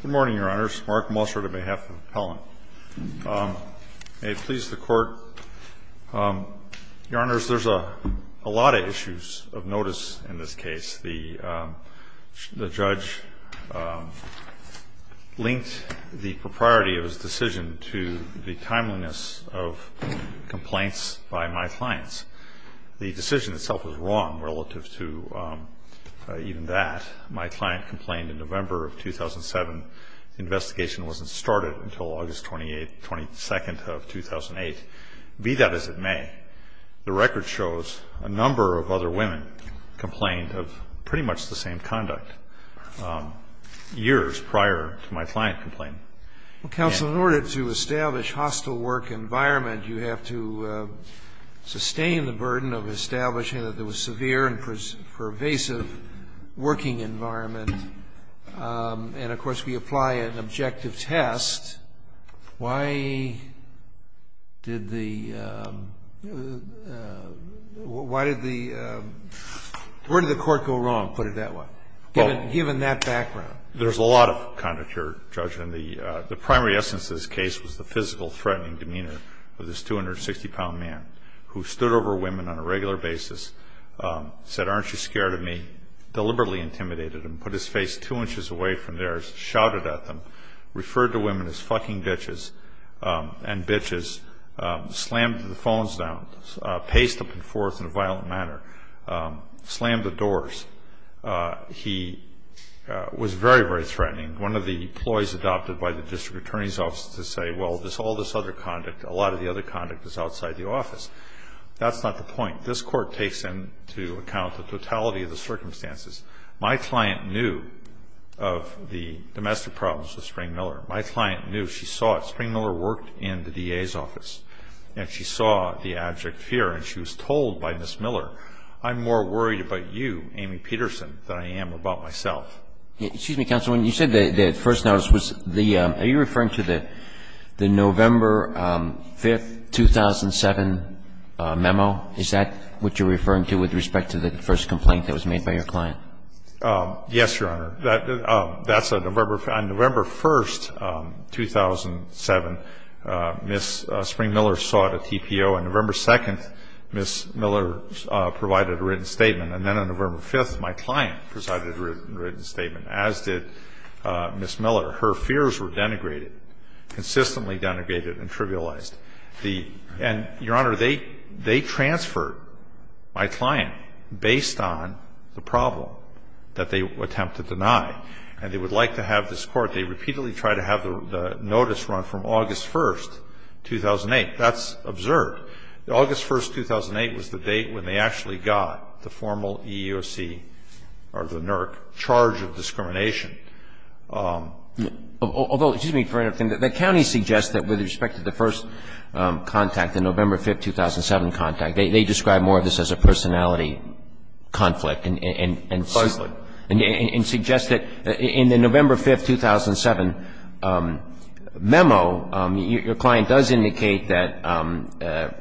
Good morning, Your Honors. Mark Mosser on behalf of the appellant. May it please the Court, Your Honors, there's a lot of issues of notice in this case. The judge linked the propriety of his decision to the timeliness of complaints by my clients. The decision itself was wrong relative to even that. My client complained in November of 2007. The investigation wasn't started until August 28th, 22nd of 2008. Be that as it may, the record shows a number of other women complained of pretty much the same conduct years prior to my client complaining. Well, counsel, in order to establish hostile work environment, you have to sustain the burden of establishing that there was severe and pervasive working environment. And, of course, we apply an objective test. Why did the – why did the – where did the court go wrong, put it that way, given that background? There's a lot of conduct here, Judge, and the primary essence of this case was the physical threatening demeanor of this 260-pound man who stood over women on a regular basis, said, aren't you scared of me, deliberately intimidated them, put his face two inches away from theirs, shouted at them, referred to women as fucking bitches and bitches, slammed the phones down, paced up and forth in a violent manner, slammed the doors. He was very, very threatening. One of the ploys adopted by the district attorney's office is to say, well, there's all this other conduct. A lot of the other conduct is outside the office. That's not the point. This court takes into account the totality of the circumstances. My client knew of the domestic problems with Spring-Miller. My client knew. She saw it. Spring-Miller worked in the DA's office, and she saw the abject fear, and she was told by Ms. Miller, I'm more worried about you, Amy Peterson, than I am about myself. Excuse me, counsel. When you said the first notice, are you referring to the November 5th, 2007 memo? Is that what you're referring to with respect to the first complaint that was made by your client? Yes, Your Honor. That's on November 1st, 2007, Ms. Spring-Miller sought a TPO. On November 2nd, Ms. Miller provided a written statement. And then on November 5th, my client presided over a written statement, as did Ms. Miller. Her fears were denigrated, consistently denigrated and trivialized. And, Your Honor, they transferred my client based on the problem that they attempted to deny. And they would like to have this court, they repeatedly try to have the notice run from August 1st, 2008. That's absurd. August 1st, 2008 was the date when they actually got the formal EEOC or the NERC charge of discrimination. Although, excuse me for interrupting. The county suggests that with respect to the first contact, the November 5th, 2007 contact, they describe more of this as a personality conflict. Precisely. And suggest that in the November 5th, 2007 memo, your client does indicate that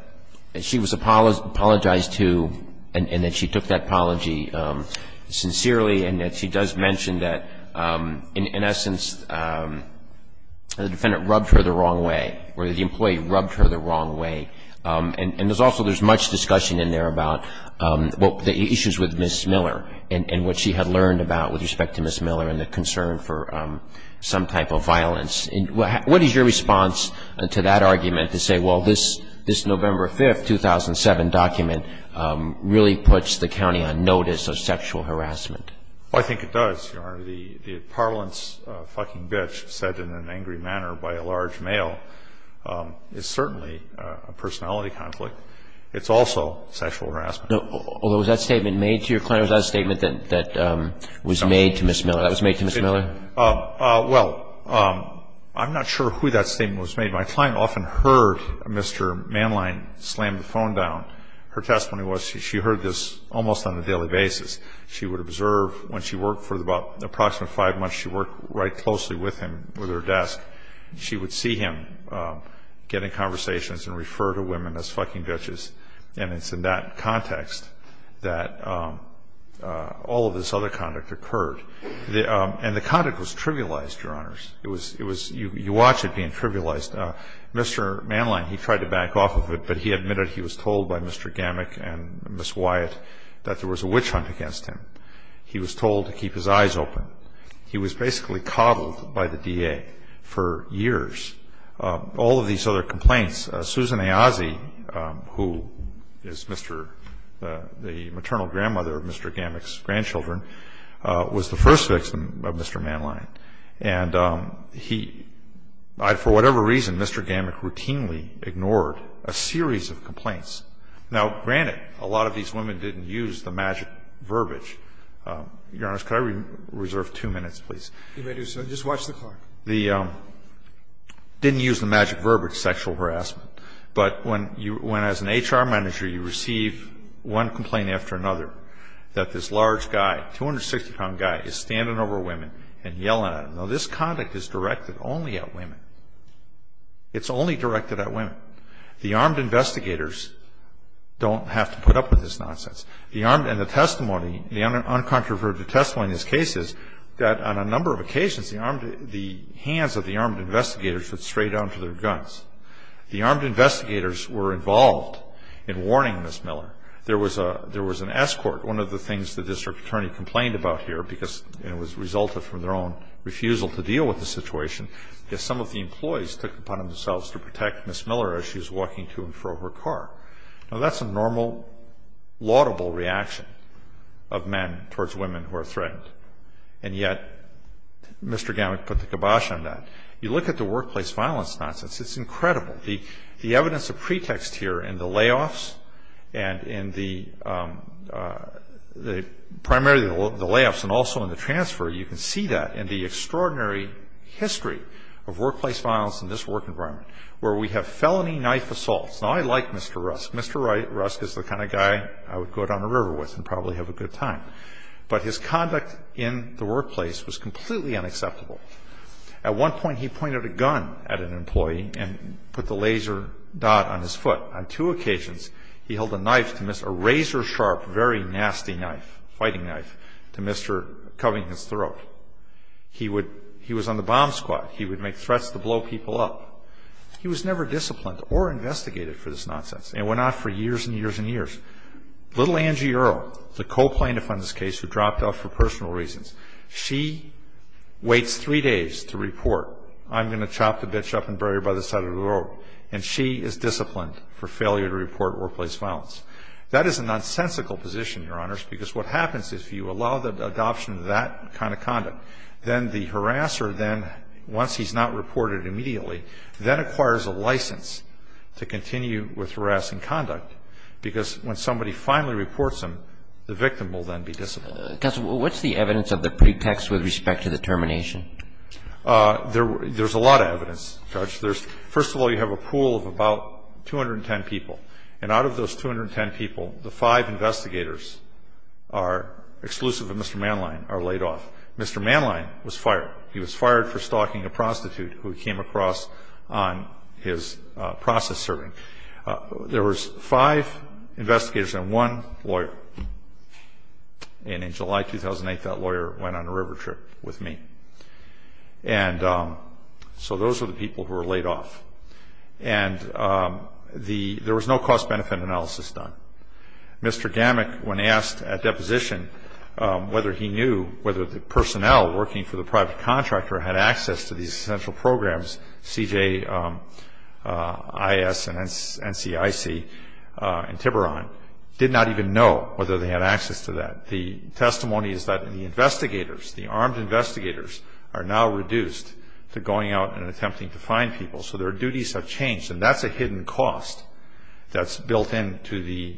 she was apologized to and that she took that apology sincerely and that she does mention that, in essence, the defendant rubbed her the wrong way or the employee rubbed her the wrong way. And there's also, there's much discussion in there about the issues with Ms. Miller and what she had learned about with respect to Ms. Miller and the concern for some type of violence. What is your response to that argument to say, well, this November 5th, 2007 document really puts the county on notice of sexual harassment? The parlance, fucking bitch, said in an angry manner by a large male is certainly a personality conflict. It's also sexual harassment. Although, was that statement made to your client? Was that a statement that was made to Ms. Miller? That was made to Ms. Miller? Well, I'm not sure who that statement was made. My client often heard Mr. Manline slam the phone down. Her testimony was she heard this almost on a daily basis. She would observe when she worked for about approximately five months, she worked right closely with him, with her desk. She would see him getting conversations and refer to women as fucking bitches. And it's in that context that all of this other conduct occurred. And the conduct was trivialized, Your Honors. It was, you watch it being trivialized. Mr. Manline, he tried to back off of it, but he admitted he was told by Mr. Gammack and Ms. Wyatt that there was a witch hunt against him. He was told to keep his eyes open. He was basically coddled by the DA for years. All of these other complaints, Susan Ayazi, who is the maternal grandmother of Mr. Gammack's grandchildren, was the first victim of Mr. Manline. And he, for whatever reason, Mr. Gammack routinely ignored a series of complaints. Now, granted, a lot of these women didn't use the magic verbiage. Your Honors, could I reserve two minutes, please? You may do so. Just watch the clock. They didn't use the magic verbiage, sexual harassment. But when, as an HR manager, you receive one complaint after another, that this large guy, 260-pound guy, is standing over women and yelling at them. Now, this conduct is directed only at women. It's only directed at women. The armed investigators don't have to put up with this nonsense. And the testimony, the uncontroverted testimony in this case is that on a number of occasions, the hands of the armed investigators would stray down to their guns. The armed investigators were involved in warning Ms. Miller. There was an escort. One of the things the district attorney complained about here, because it resulted from their own refusal to deal with the situation, is some of the employees took it upon themselves to protect Ms. Miller as she was walking to and from her car. Now, that's a normal, laudable reaction of men towards women who are threatened. And yet, Mr. Gammack put the kibosh on that. You look at the workplace violence nonsense. It's incredible. The evidence of pretext here in the layoffs and in the primary layoffs and also in the transfer, you can see that in the extraordinary history of workplace violence in this work environment, where we have felony knife assaults. Now, I like Mr. Rusk. Mr. Rusk is the kind of guy I would go down a river with and probably have a good time. But his conduct in the workplace was completely unacceptable. At one point, he pointed a gun at an employee and put the laser dot on his foot. On two occasions, he held a knife to Mr. A razor-sharp, very nasty knife, fighting knife, to Mr. Covering his throat. He was on the bomb squad. He would make threats to blow people up. He was never disciplined or investigated for this nonsense. And it went on for years and years and years. Little Angie Earl, the co-plaintiff on this case who dropped off for personal reasons, she waits three days to report, I'm going to chop the bitch up and bury her by the side of the road. And she is disciplined for failure to report workplace violence. That is a nonsensical position, Your Honors, because what happens if you allow the adoption of that kind of conduct, then the harasser then, once he's not reported immediately, then acquires a license to continue with harassing conduct, because when somebody finally reports him, the victim will then be disciplined. Counsel, what's the evidence of the pretext with respect to the termination? There's a lot of evidence, Judge. First of all, you have a pool of about 210 people. And out of those 210 people, the five investigators, exclusive of Mr. Manline, are laid off. Mr. Manline was fired. He was fired for stalking a prostitute who he came across on his process serving. There was five investigators and one lawyer. And in July 2008, that lawyer went on a river trip with me. And so those are the people who were laid off. And there was no cost-benefit analysis done. Mr. Gamak, when asked at deposition whether he knew whether the personnel working for the private contractor had access to these essential programs, CJIS and NCIC in Tiburon, did not even know whether they had access to that. The testimony is that the investigators, the armed investigators, are now reduced to going out and attempting to find people. So their duties have changed. And that's a hidden cost that's built into the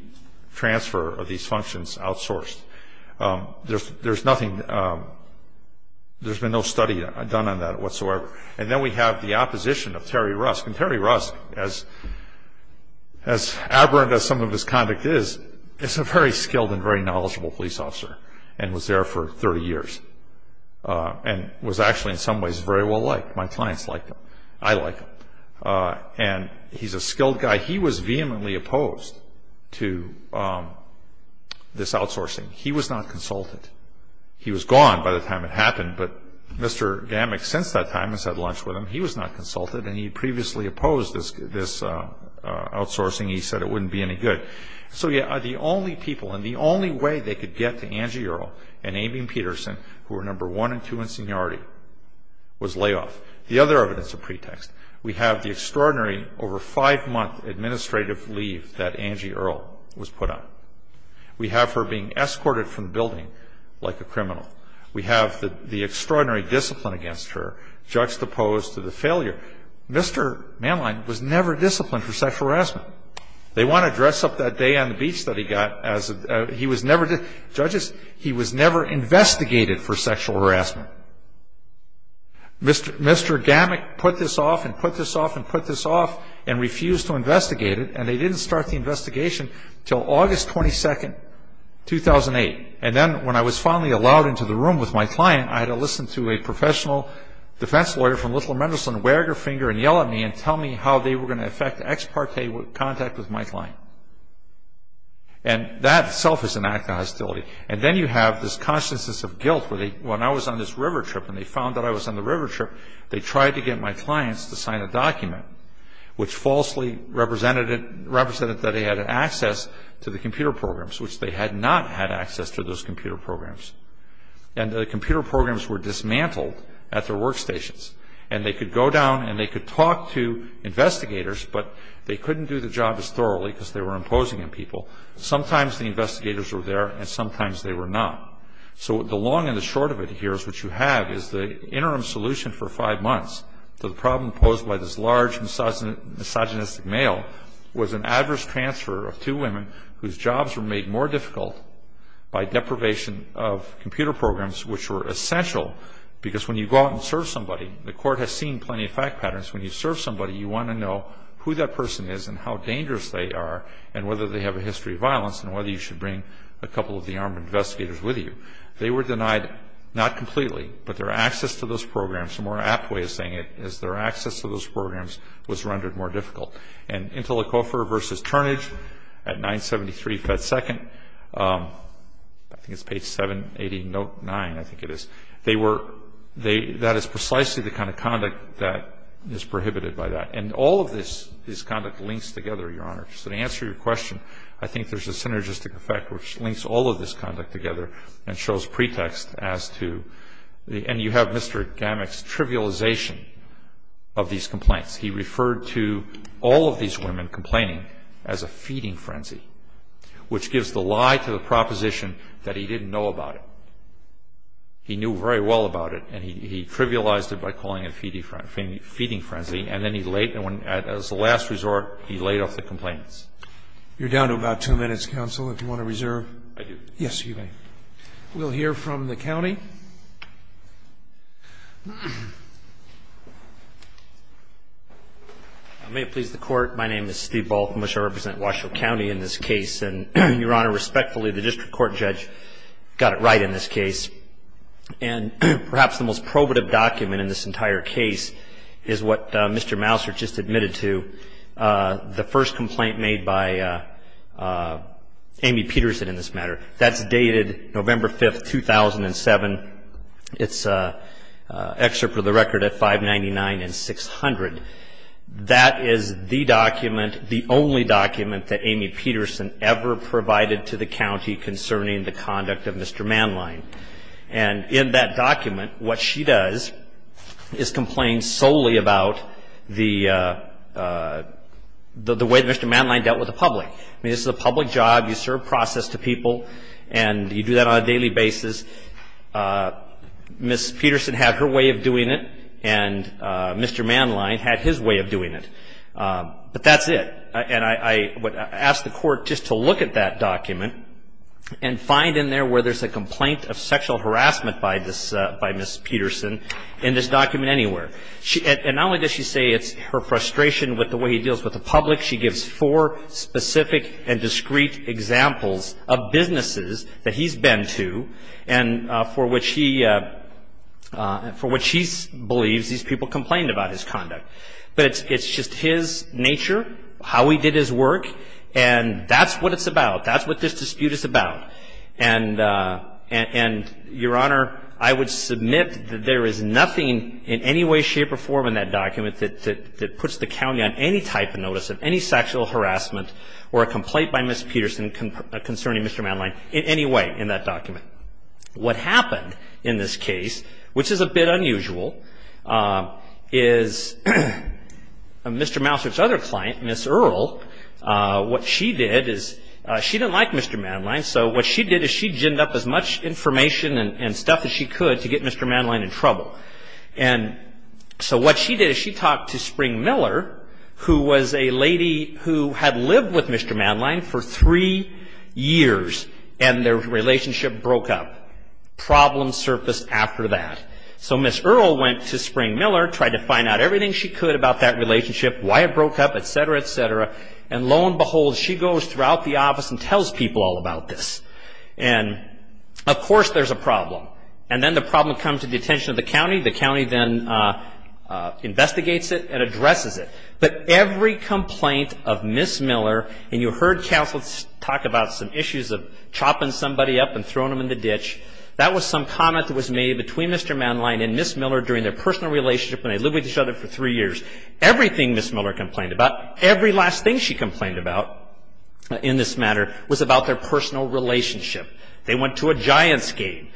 transfer of these functions outsourced. There's been no study done on that whatsoever. And then we have the opposition of Terry Rusk. And Terry Rusk, as aberrant as some of his conduct is, is a very skilled and very knowledgeable police officer and was there for 30 years and was actually in some ways very well liked. My clients like him. I like him. And he's a skilled guy. He was vehemently opposed to this outsourcing. He was not consulted. He was gone by the time it happened, but Mr. Gamak, since that time, has had lunch with him. He was not consulted, and he previously opposed this outsourcing. He said it wouldn't be any good. So the only people and the only way they could get to Angie Earle and Aimeen Peterson, who were number one and two in seniority, was layoff. The other evidence of pretext. We have the extraordinary over five-month administrative leave that Angie Earle was put on. We have her being escorted from the building like a criminal. We have the extraordinary discipline against her, juxtaposed to the failure. Mr. Manline was never disciplined for sexual harassment. They want to dress up that day on the beach that he got. He was never, judges, he was never investigated for sexual harassment. Mr. Gamak put this off and put this off and put this off and refused to investigate it, and they didn't start the investigation until August 22, 2008. And then when I was finally allowed into the room with my client, I had to listen to a professional defense lawyer from Little Mendelsohn wear her finger and yell at me and tell me how they were going to affect ex parte contact with my client. And that itself is an act of hostility. And then you have this consciousness of guilt where they, when I was on this river trip and they found that I was on the river trip, they tried to get my clients to sign a document which falsely represented that they had access to the computer programs, which they had not had access to those computer programs. And the computer programs were dismantled at their workstations. And they could go down and they could talk to investigators, but they couldn't do the job as thoroughly because they were imposing on people. Sometimes the investigators were there and sometimes they were not. So the long and the short of it here is what you have is the interim solution for five months to the problem posed by this large misogynistic male was an adverse transfer of two women whose jobs were made more difficult by deprivation of computer programs which were essential because when you go out and serve somebody, the court has seen plenty of fact patterns, when you serve somebody you want to know who that person is and how dangerous they are and whether they have a history of violence and whether you should bring a couple of the armed investigators with you. They were denied, not completely, but their access to those programs, a more apt way of saying it is their access to those programs was rendered more difficult. And Interlochopher v. Turnage at 973 Pet Second, I think it's page 780, note 9, I think it is, that is precisely the kind of conduct that is prohibited by that. And all of this conduct links together, Your Honor. So to answer your question, I think there is a synergistic effect which links all of this conduct together and shows pretext as to, and you have Mr. Gamak's trivialization of these complaints. He referred to all of these women complaining as a feeding frenzy which gives the lie to the proposition that he didn't know about it. He knew very well about it and he trivialized it by calling it a feeding frenzy and then he laid, as a last resort, he laid off the complaints. You're down to about two minutes, counsel, if you want to reserve. I do. Yes, you may. We'll hear from the county. May it please the Court. My name is Steve Balkin. I represent Washoe County in this case. And perhaps the most probative document in this entire case is what Mr. Mouser just admitted to, the first complaint made by Amy Peterson in this matter. That's dated November 5, 2007. It's an excerpt of the record at 599 and 600. That is the document, the only document, that Amy Peterson ever provided to the county concerning the conduct of Mr. Manline. And in that document, what she does is complain solely about the way Mr. Manline dealt with the public. I mean, this is a public job. You serve process to people and you do that on a daily basis. Ms. Peterson had her way of doing it and Mr. Manline had his way of doing it. But that's it. And I would ask the Court just to look at that document and find in there where there's a complaint of sexual harassment by Ms. Peterson in this document anywhere. And not only does she say it's her frustration with the way he deals with the public, she gives four specific and discreet examples of businesses that he's been to and for which he believes these people complained about his conduct. But it's just his nature, how he did his work, and that's what it's about. That's what this dispute is about. And, Your Honor, I would submit that there is nothing in any way, shape or form in that document that puts the county on any type of notice of any sexual harassment or a complaint by Ms. Peterson concerning Mr. Manline in any way in that document. What happened in this case, which is a bit unusual, is Mr. Mouser's other client, Ms. Earle, what she did is she didn't like Mr. Manline, so what she did is she ginned up as much information and stuff as she could to get Mr. Manline in trouble. And so what she did is she talked to Spring Miller, who was a lady who had lived with Mr. Manline for three years and their relationship broke up. Problems surfaced after that. So Ms. Earle went to Spring Miller, tried to find out everything she could about that relationship, why it broke up, etc., etc., and lo and behold, she goes throughout the office and tells people all about this. And, of course, there's a problem. And then the problem comes to the attention of the county. The county then investigates it and addresses it. But every complaint of Ms. Miller, and you heard counsel talk about some issues of chopping somebody up and throwing them in the ditch, that was some comment that was made between Mr. Manline and Ms. Miller during their personal relationship when they lived with each other for three years. Everything Ms. Miller complained about, every last thing she complained about in this matter, was about their personal relationship. They went to a Giants game.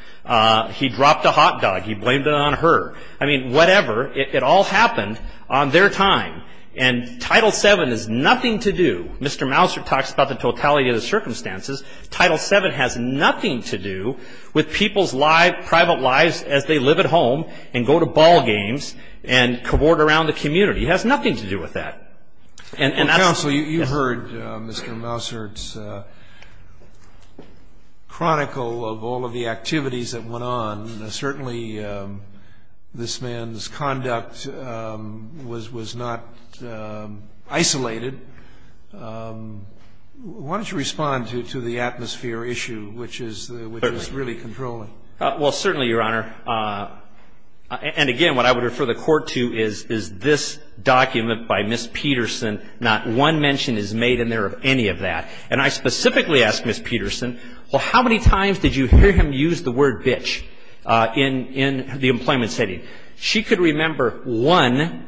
He dropped a hot dog. He blamed it on her. I mean, whatever. It all happened on their time. And Title VII has nothing to do, Mr. Mousert talks about the totality of the circumstances, Title VII has nothing to do with people's private lives as they live at home and go to ball games and cavort around the community. It has nothing to do with that. Counsel, you heard Mr. Mousert's chronicle of all of the activities that went on. Certainly this man's conduct was not isolated. Why don't you respond to the atmosphere issue, which is really controlling. Well, certainly, Your Honor. And, again, what I would refer the Court to is this document by Ms. Peterson. Not one mention is made in there of any of that. And I specifically ask Ms. Peterson, well, how many times did you hear him use the word bitch in the employment setting? She could remember one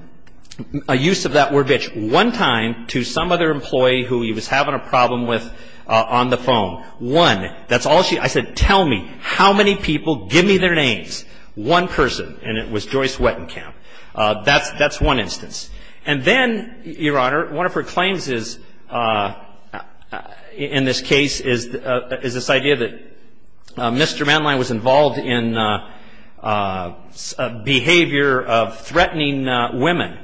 use of that word bitch, one time to some other employee who he was having a problem with on the phone. One. That's all she said. I said, tell me how many people, give me their names. One person. And it was Joyce Wettenkamp. That's one instance. And then, Your Honor, one of her claims is, in this case, is this idea that Mr. Manline was involved in behavior of threatening women.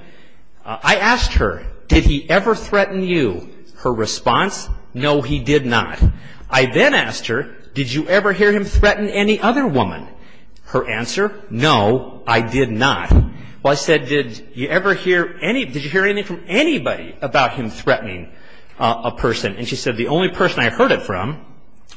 I asked her, did he ever threaten you? Her response, no, he did not. I then asked her, did you ever hear him threaten any other woman? Her answer, no, I did not. Well, I said, did you ever hear any, did you hear anything from anybody about him threatening a person? And she said, the only person I heard it from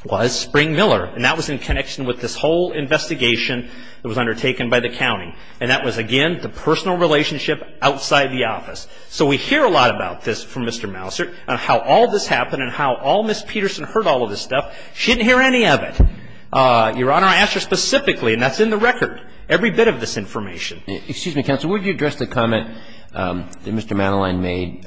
was Spring Miller. And that was in connection with this whole investigation that was undertaken by the county. And that was, again, the personal relationship outside the office. So we hear a lot about this from Mr. Mouser and how all this happened and how all Ms. Peterson heard all of this stuff. She didn't hear any of it. Your Honor, I asked her specifically, and that's in the record, every bit of this information. Excuse me, counsel. Would you address the comment that Mr. Manline made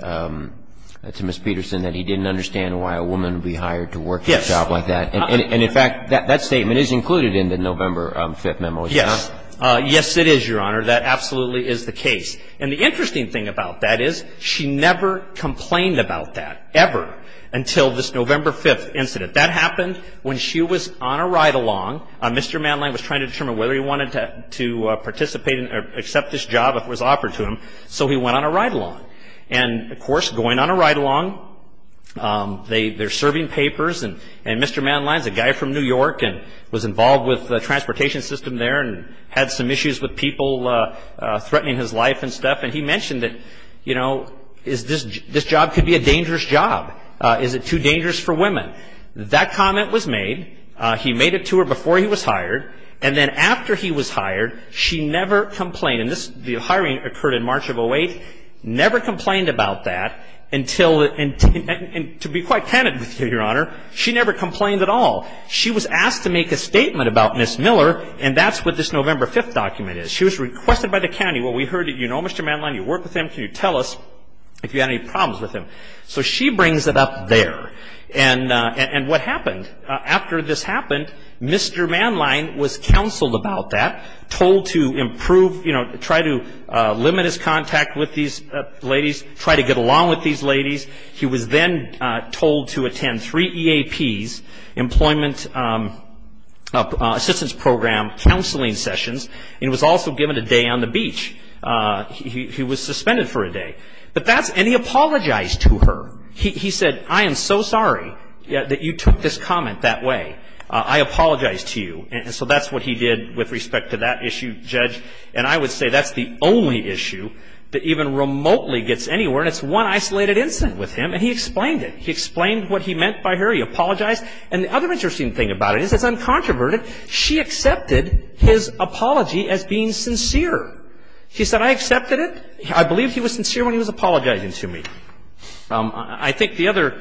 to Ms. Peterson, that he didn't understand why a woman would be hired to work in a job like that? Yes. And, in fact, that statement is included in the November 5th memo, is it not? Yes. Yes, it is, Your Honor. That absolutely is the case. And the interesting thing about that is she never complained about that, ever, until this November 5th incident. That happened when she was on a ride-along. Mr. Manline was trying to determine whether he wanted to participate or accept this job if it was offered to him. So he went on a ride-along. And, of course, going on a ride-along, they're serving papers. And Mr. Manline is a guy from New York and was involved with the transportation system there and had some issues with people threatening his life and stuff. And he mentioned that, you know, this job could be a dangerous job. Is it too dangerous for women? That comment was made. He made it to her before he was hired. And then after he was hired, she never complained. And the hiring occurred in March of 2008. Never complained about that until the end. And to be quite candid with you, Your Honor, she never complained at all. She was asked to make a statement about Ms. Miller, and that's what this November 5th document is. She was requested by the county. Well, we heard that you know Mr. Manline, you work with him. Can you tell us if you had any problems with him? So she brings it up there. And what happened? After this happened, Mr. Manline was counseled about that, told to improve, you know, try to limit his contact with these ladies, try to get along with these ladies. He was then told to attend three EAPs, Employment Assistance Program, counseling sessions. And he was also given a day on the beach. He was suspended for a day. And he apologized to her. He said, I am so sorry that you took this comment that way. I apologize to you. And so that's what he did with respect to that issue, Judge. And I would say that's the only issue that even remotely gets anywhere, and it's one isolated incident with him. And he explained it. He explained what he meant by her. He apologized. And the other interesting thing about it is it's uncontroverted. She accepted his apology as being sincere. She said, I accepted it. I believe he was sincere when he was apologizing to me. I think the other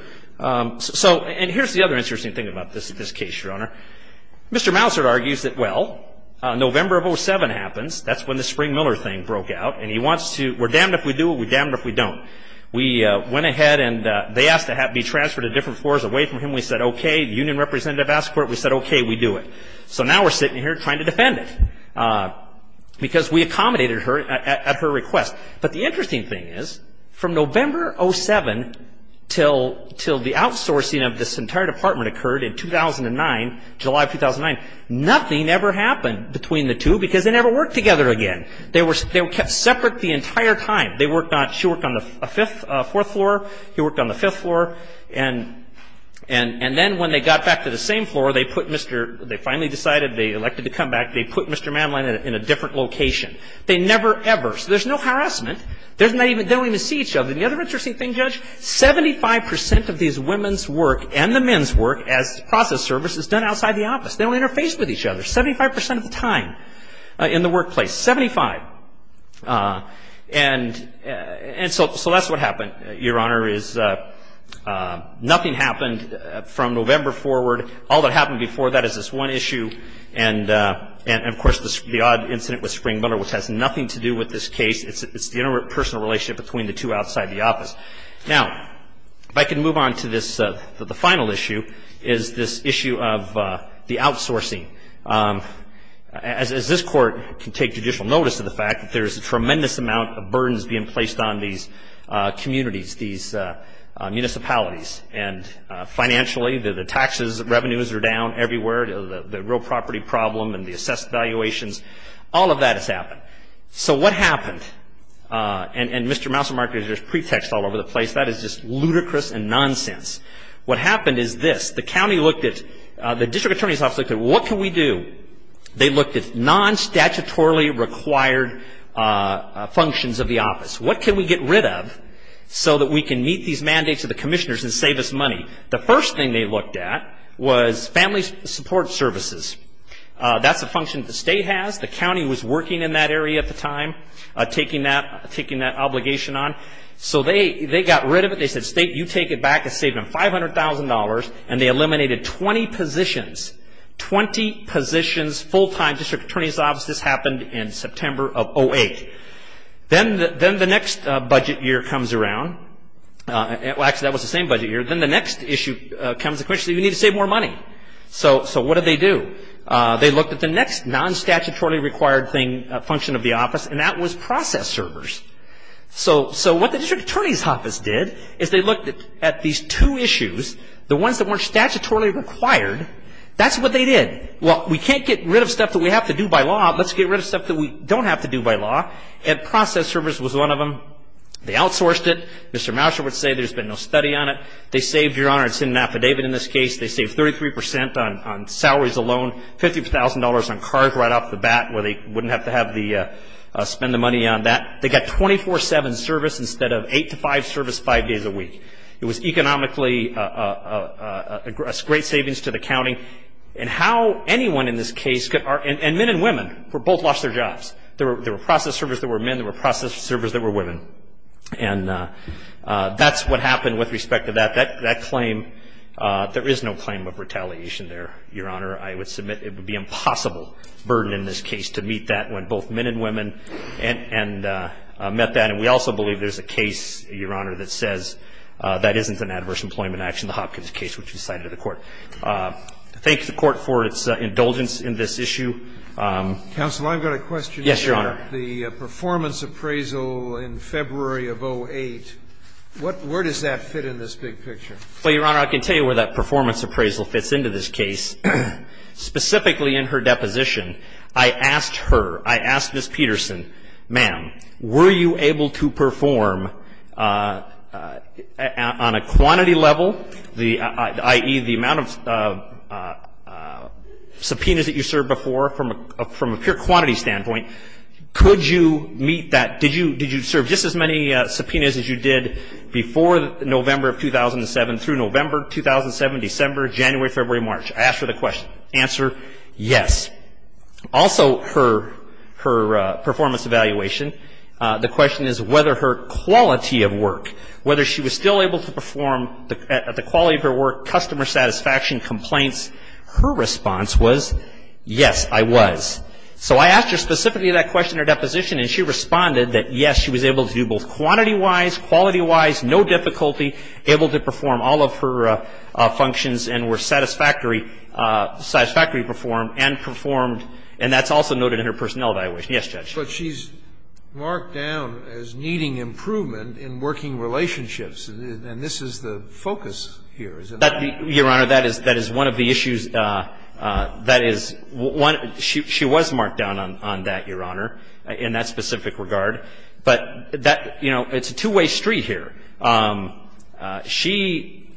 so and here's the other interesting thing about this case, Your Honor. Mr. Mouser argues that, well, November of 07 happens. That's when the Spring Miller thing broke out. And he wants to, we're damned if we do it, we're damned if we don't. We went ahead and they asked to be transferred to different floors away from him. We said, okay. The union representative asked for it. We said, okay, we do it. So now we're sitting here trying to defend it because we accommodated her at her request. But the interesting thing is from November 07 until the outsourcing of this entire department occurred in 2009, July of 2009, nothing ever happened between the two because they never worked together again. They were kept separate the entire time. They worked on, she worked on the fifth, fourth floor. He worked on the fifth floor. And then when they got back to the same floor, they put Mr., they finally decided, they elected to come back. They put Mr. Manlin in a different location. They never ever. So there's no harassment. They don't even see each other. And the other interesting thing, Judge, 75 percent of these women's work and the men's work as process service is done outside the office. They don't interface with each other 75 percent of the time in the workplace. Seventy-five. And so that's what happened, Your Honor, is nothing happened from November forward. All that happened before that is this one issue. And, of course, the odd incident with Springbiller, which has nothing to do with this case. It's the interpersonal relationship between the two outside the office. Now, if I can move on to this, the final issue, is this issue of the outsourcing. As this Court can take judicial notice of the fact that there's a tremendous amount of burdens being placed on these communities, these municipalities, and financially, the taxes, revenues are down everywhere. The real property problem and the assessed valuations, all of that has happened. So what happened? And, Mr. Mousermarker, there's pretext all over the place. That is just ludicrous and nonsense. What happened is this. The county looked at, the district attorney's office looked at, what can we do? They looked at non-statutorily required functions of the office. What can we get rid of so that we can meet these mandates of the commissioners and save us money? The first thing they looked at was family support services. That's a function the state has. The county was working in that area at the time, taking that obligation on. So they got rid of it. They said, state, you take it back. It saved them $500,000. And they eliminated 20 positions, 20 positions, full-time district attorney's offices. This happened in September of 2008. Then the next budget year comes around. Actually, that was the same budget year. Then the next issue comes, the commission, you need to save more money. So what did they do? They looked at the next non-statutorily required function of the office, and that was process servers. So what the district attorney's office did is they looked at these two issues, the ones that weren't statutorily required. That's what they did. Well, we can't get rid of stuff that we have to do by law. Let's get rid of stuff that we don't have to do by law. And process servers was one of them. They outsourced it. Mr. Mouser would say there's been no study on it. They saved, Your Honor, it's in an affidavit in this case, they saved 33% on salaries alone, $50,000 on cars right off the bat where they wouldn't have to spend the money on that. They got 24-7 service instead of 8-to-5 service five days a week. It was economically a great savings to the county. And how anyone in this case could, and men and women, both lost their jobs. There were process servers that were men. There were process servers that were women. And that's what happened with respect to that. That claim, there is no claim of retaliation there, Your Honor. I would submit it would be an impossible burden in this case to meet that when both men and women met that. And we also believe there's a case, Your Honor, that says that isn't an adverse employment action, the Hopkins case, which was cited to the Court. Thank the Court for its indulgence in this issue. Counsel, I've got a question. Yes, Your Honor. The performance appraisal in February of 08, where does that fit in this big picture? Well, Your Honor, I can tell you where that performance appraisal fits into this case. Specifically in her deposition, I asked her, I asked Ms. Peterson, ma'am, were you able to perform on a quantity level, i.e., the amount of subpoenas that you served before from a pure quantity standpoint, could you meet that? Did you serve just as many subpoenas as you did before November of 2007 through November 2007, December, January, February, March? I asked her the question. Answer, yes. Also, her performance evaluation, the question is whether her quality of work, whether she was still able to perform at the quality of her work, customer satisfaction complaints. Her response was, yes, I was. So I asked her specifically that question in her deposition, and she responded that, yes, she was able to do both quantity-wise, quality-wise, no difficulty, able to perform all of her functions and were satisfactory, satisfactory performed and performed, and that's also noted in her personnel evaluation. Yes, Judge. But she's marked down as needing improvement in working relationships, and this is the focus here, is it not? Your Honor, that is one of the issues that is one of the issues. She was marked down on that, Your Honor, in that specific regard. But that, you know, it's a two-way street here. She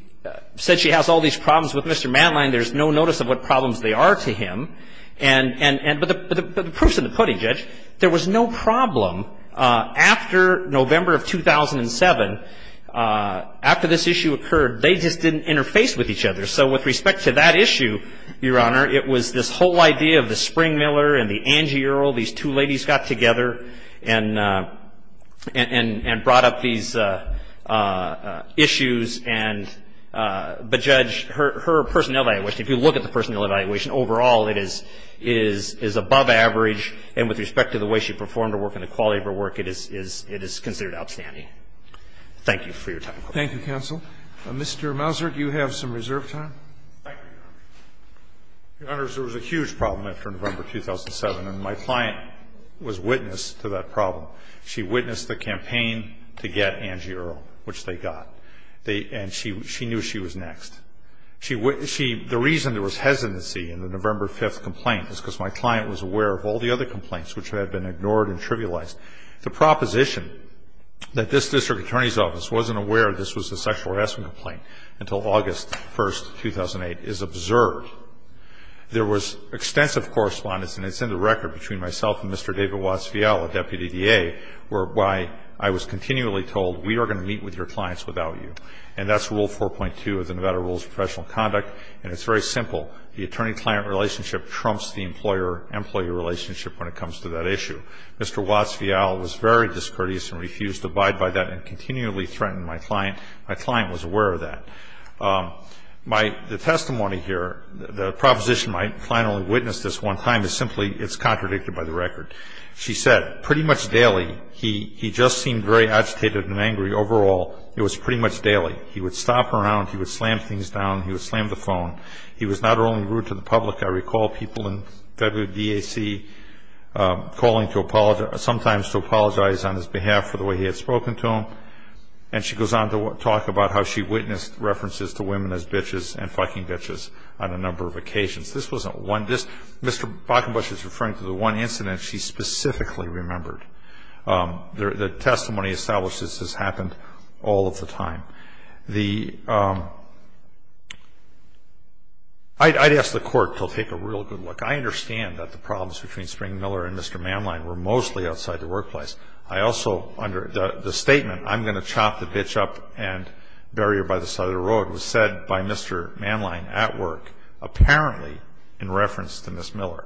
said she has all these problems with Mr. Madline. There's no notice of what problems they are to him. But the proof's in the pudding, Judge. There was no problem after November of 2007, after this issue occurred. They just didn't interface with each other. So with respect to that issue, Your Honor, it was this whole idea of the Spring-Miller and the Angie Earle. These two ladies got together and brought up these issues. And, but, Judge, her personnel evaluation, if you look at the personnel evaluation, overall it is above average, and with respect to the way she performed her work and the quality of her work, it is considered outstanding. Thank you for your time. Thank you, counsel. Mr. Mazur, you have some reserve time. Thank you, Your Honor. Your Honor, there was a huge problem after November 2007, and my client was witness to that problem. She witnessed the campaign to get Angie Earle, which they got. And she knew she was next. The reason there was hesitancy in the November 5th complaint was because my client was aware of all the other complaints which had been ignored and trivialized. The proposition that this district attorney's office wasn't aware this was a sexual harassment complaint until August 1st, 2008, is absurd. There was extensive correspondence, and it's in the record, between myself and Mr. David Watts-Vielle, a deputy DA, whereby I was continually told, we are going to meet with your clients without you. And that's Rule 4.2 of the Nevada Rules of Professional Conduct, and it's very simple. The attorney-client relationship trumps the employer-employee relationship when it comes to that issue. Mr. Watts-Vielle was very discourteous and refused to abide by that and continually threatened my client. My client was aware of that. The testimony here, the proposition my client only witnessed this one time is simply it's contradicted by the record. She said, pretty much daily, he just seemed very agitated and angry. Overall, it was pretty much daily. He would stop around. He would slam things down. He would slam the phone. He was not only rude to the public. I recall people in federal DAC calling sometimes to apologize on his behalf for the way he had spoken to him. And she goes on to talk about how she witnessed references to women as bitches and fucking bitches on a number of occasions. This wasn't one. Mr. Bakkenbush is referring to the one incident she specifically remembered. The testimony establishes this has happened all of the time. I'd ask the court to take a real good look. I understand that the problems between Spring Miller and Mr. Manline were mostly outside the workplace. The statement, I'm going to chop the bitch up and bury her by the side of the road, was said by Mr. Manline at work, apparently in reference to Ms. Miller.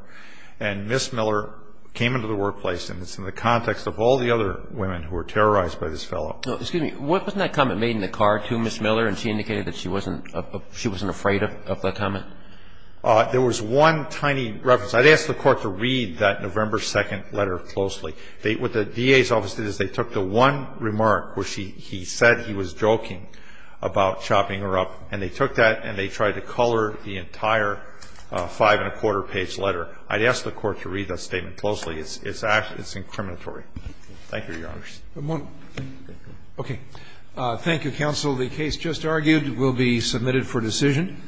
And Ms. Miller came into the workplace, and it's in the context of all the other women who were terrorized by this fellow. Excuse me. Wasn't that comment made in the car to Ms. Miller, and she indicated that she wasn't afraid of that comment? There was one tiny reference. I'd ask the court to read that November 2nd letter closely. What the DA's office did is they took the one remark where he said he was joking about chopping her up, and they took that and they tried to color the entire five-and-a-quarter page letter. I'd ask the court to read that statement closely. It's incriminatory. Thank you, Your Honors. Okay. Thank you, counsel. The case just argued will be submitted for decision.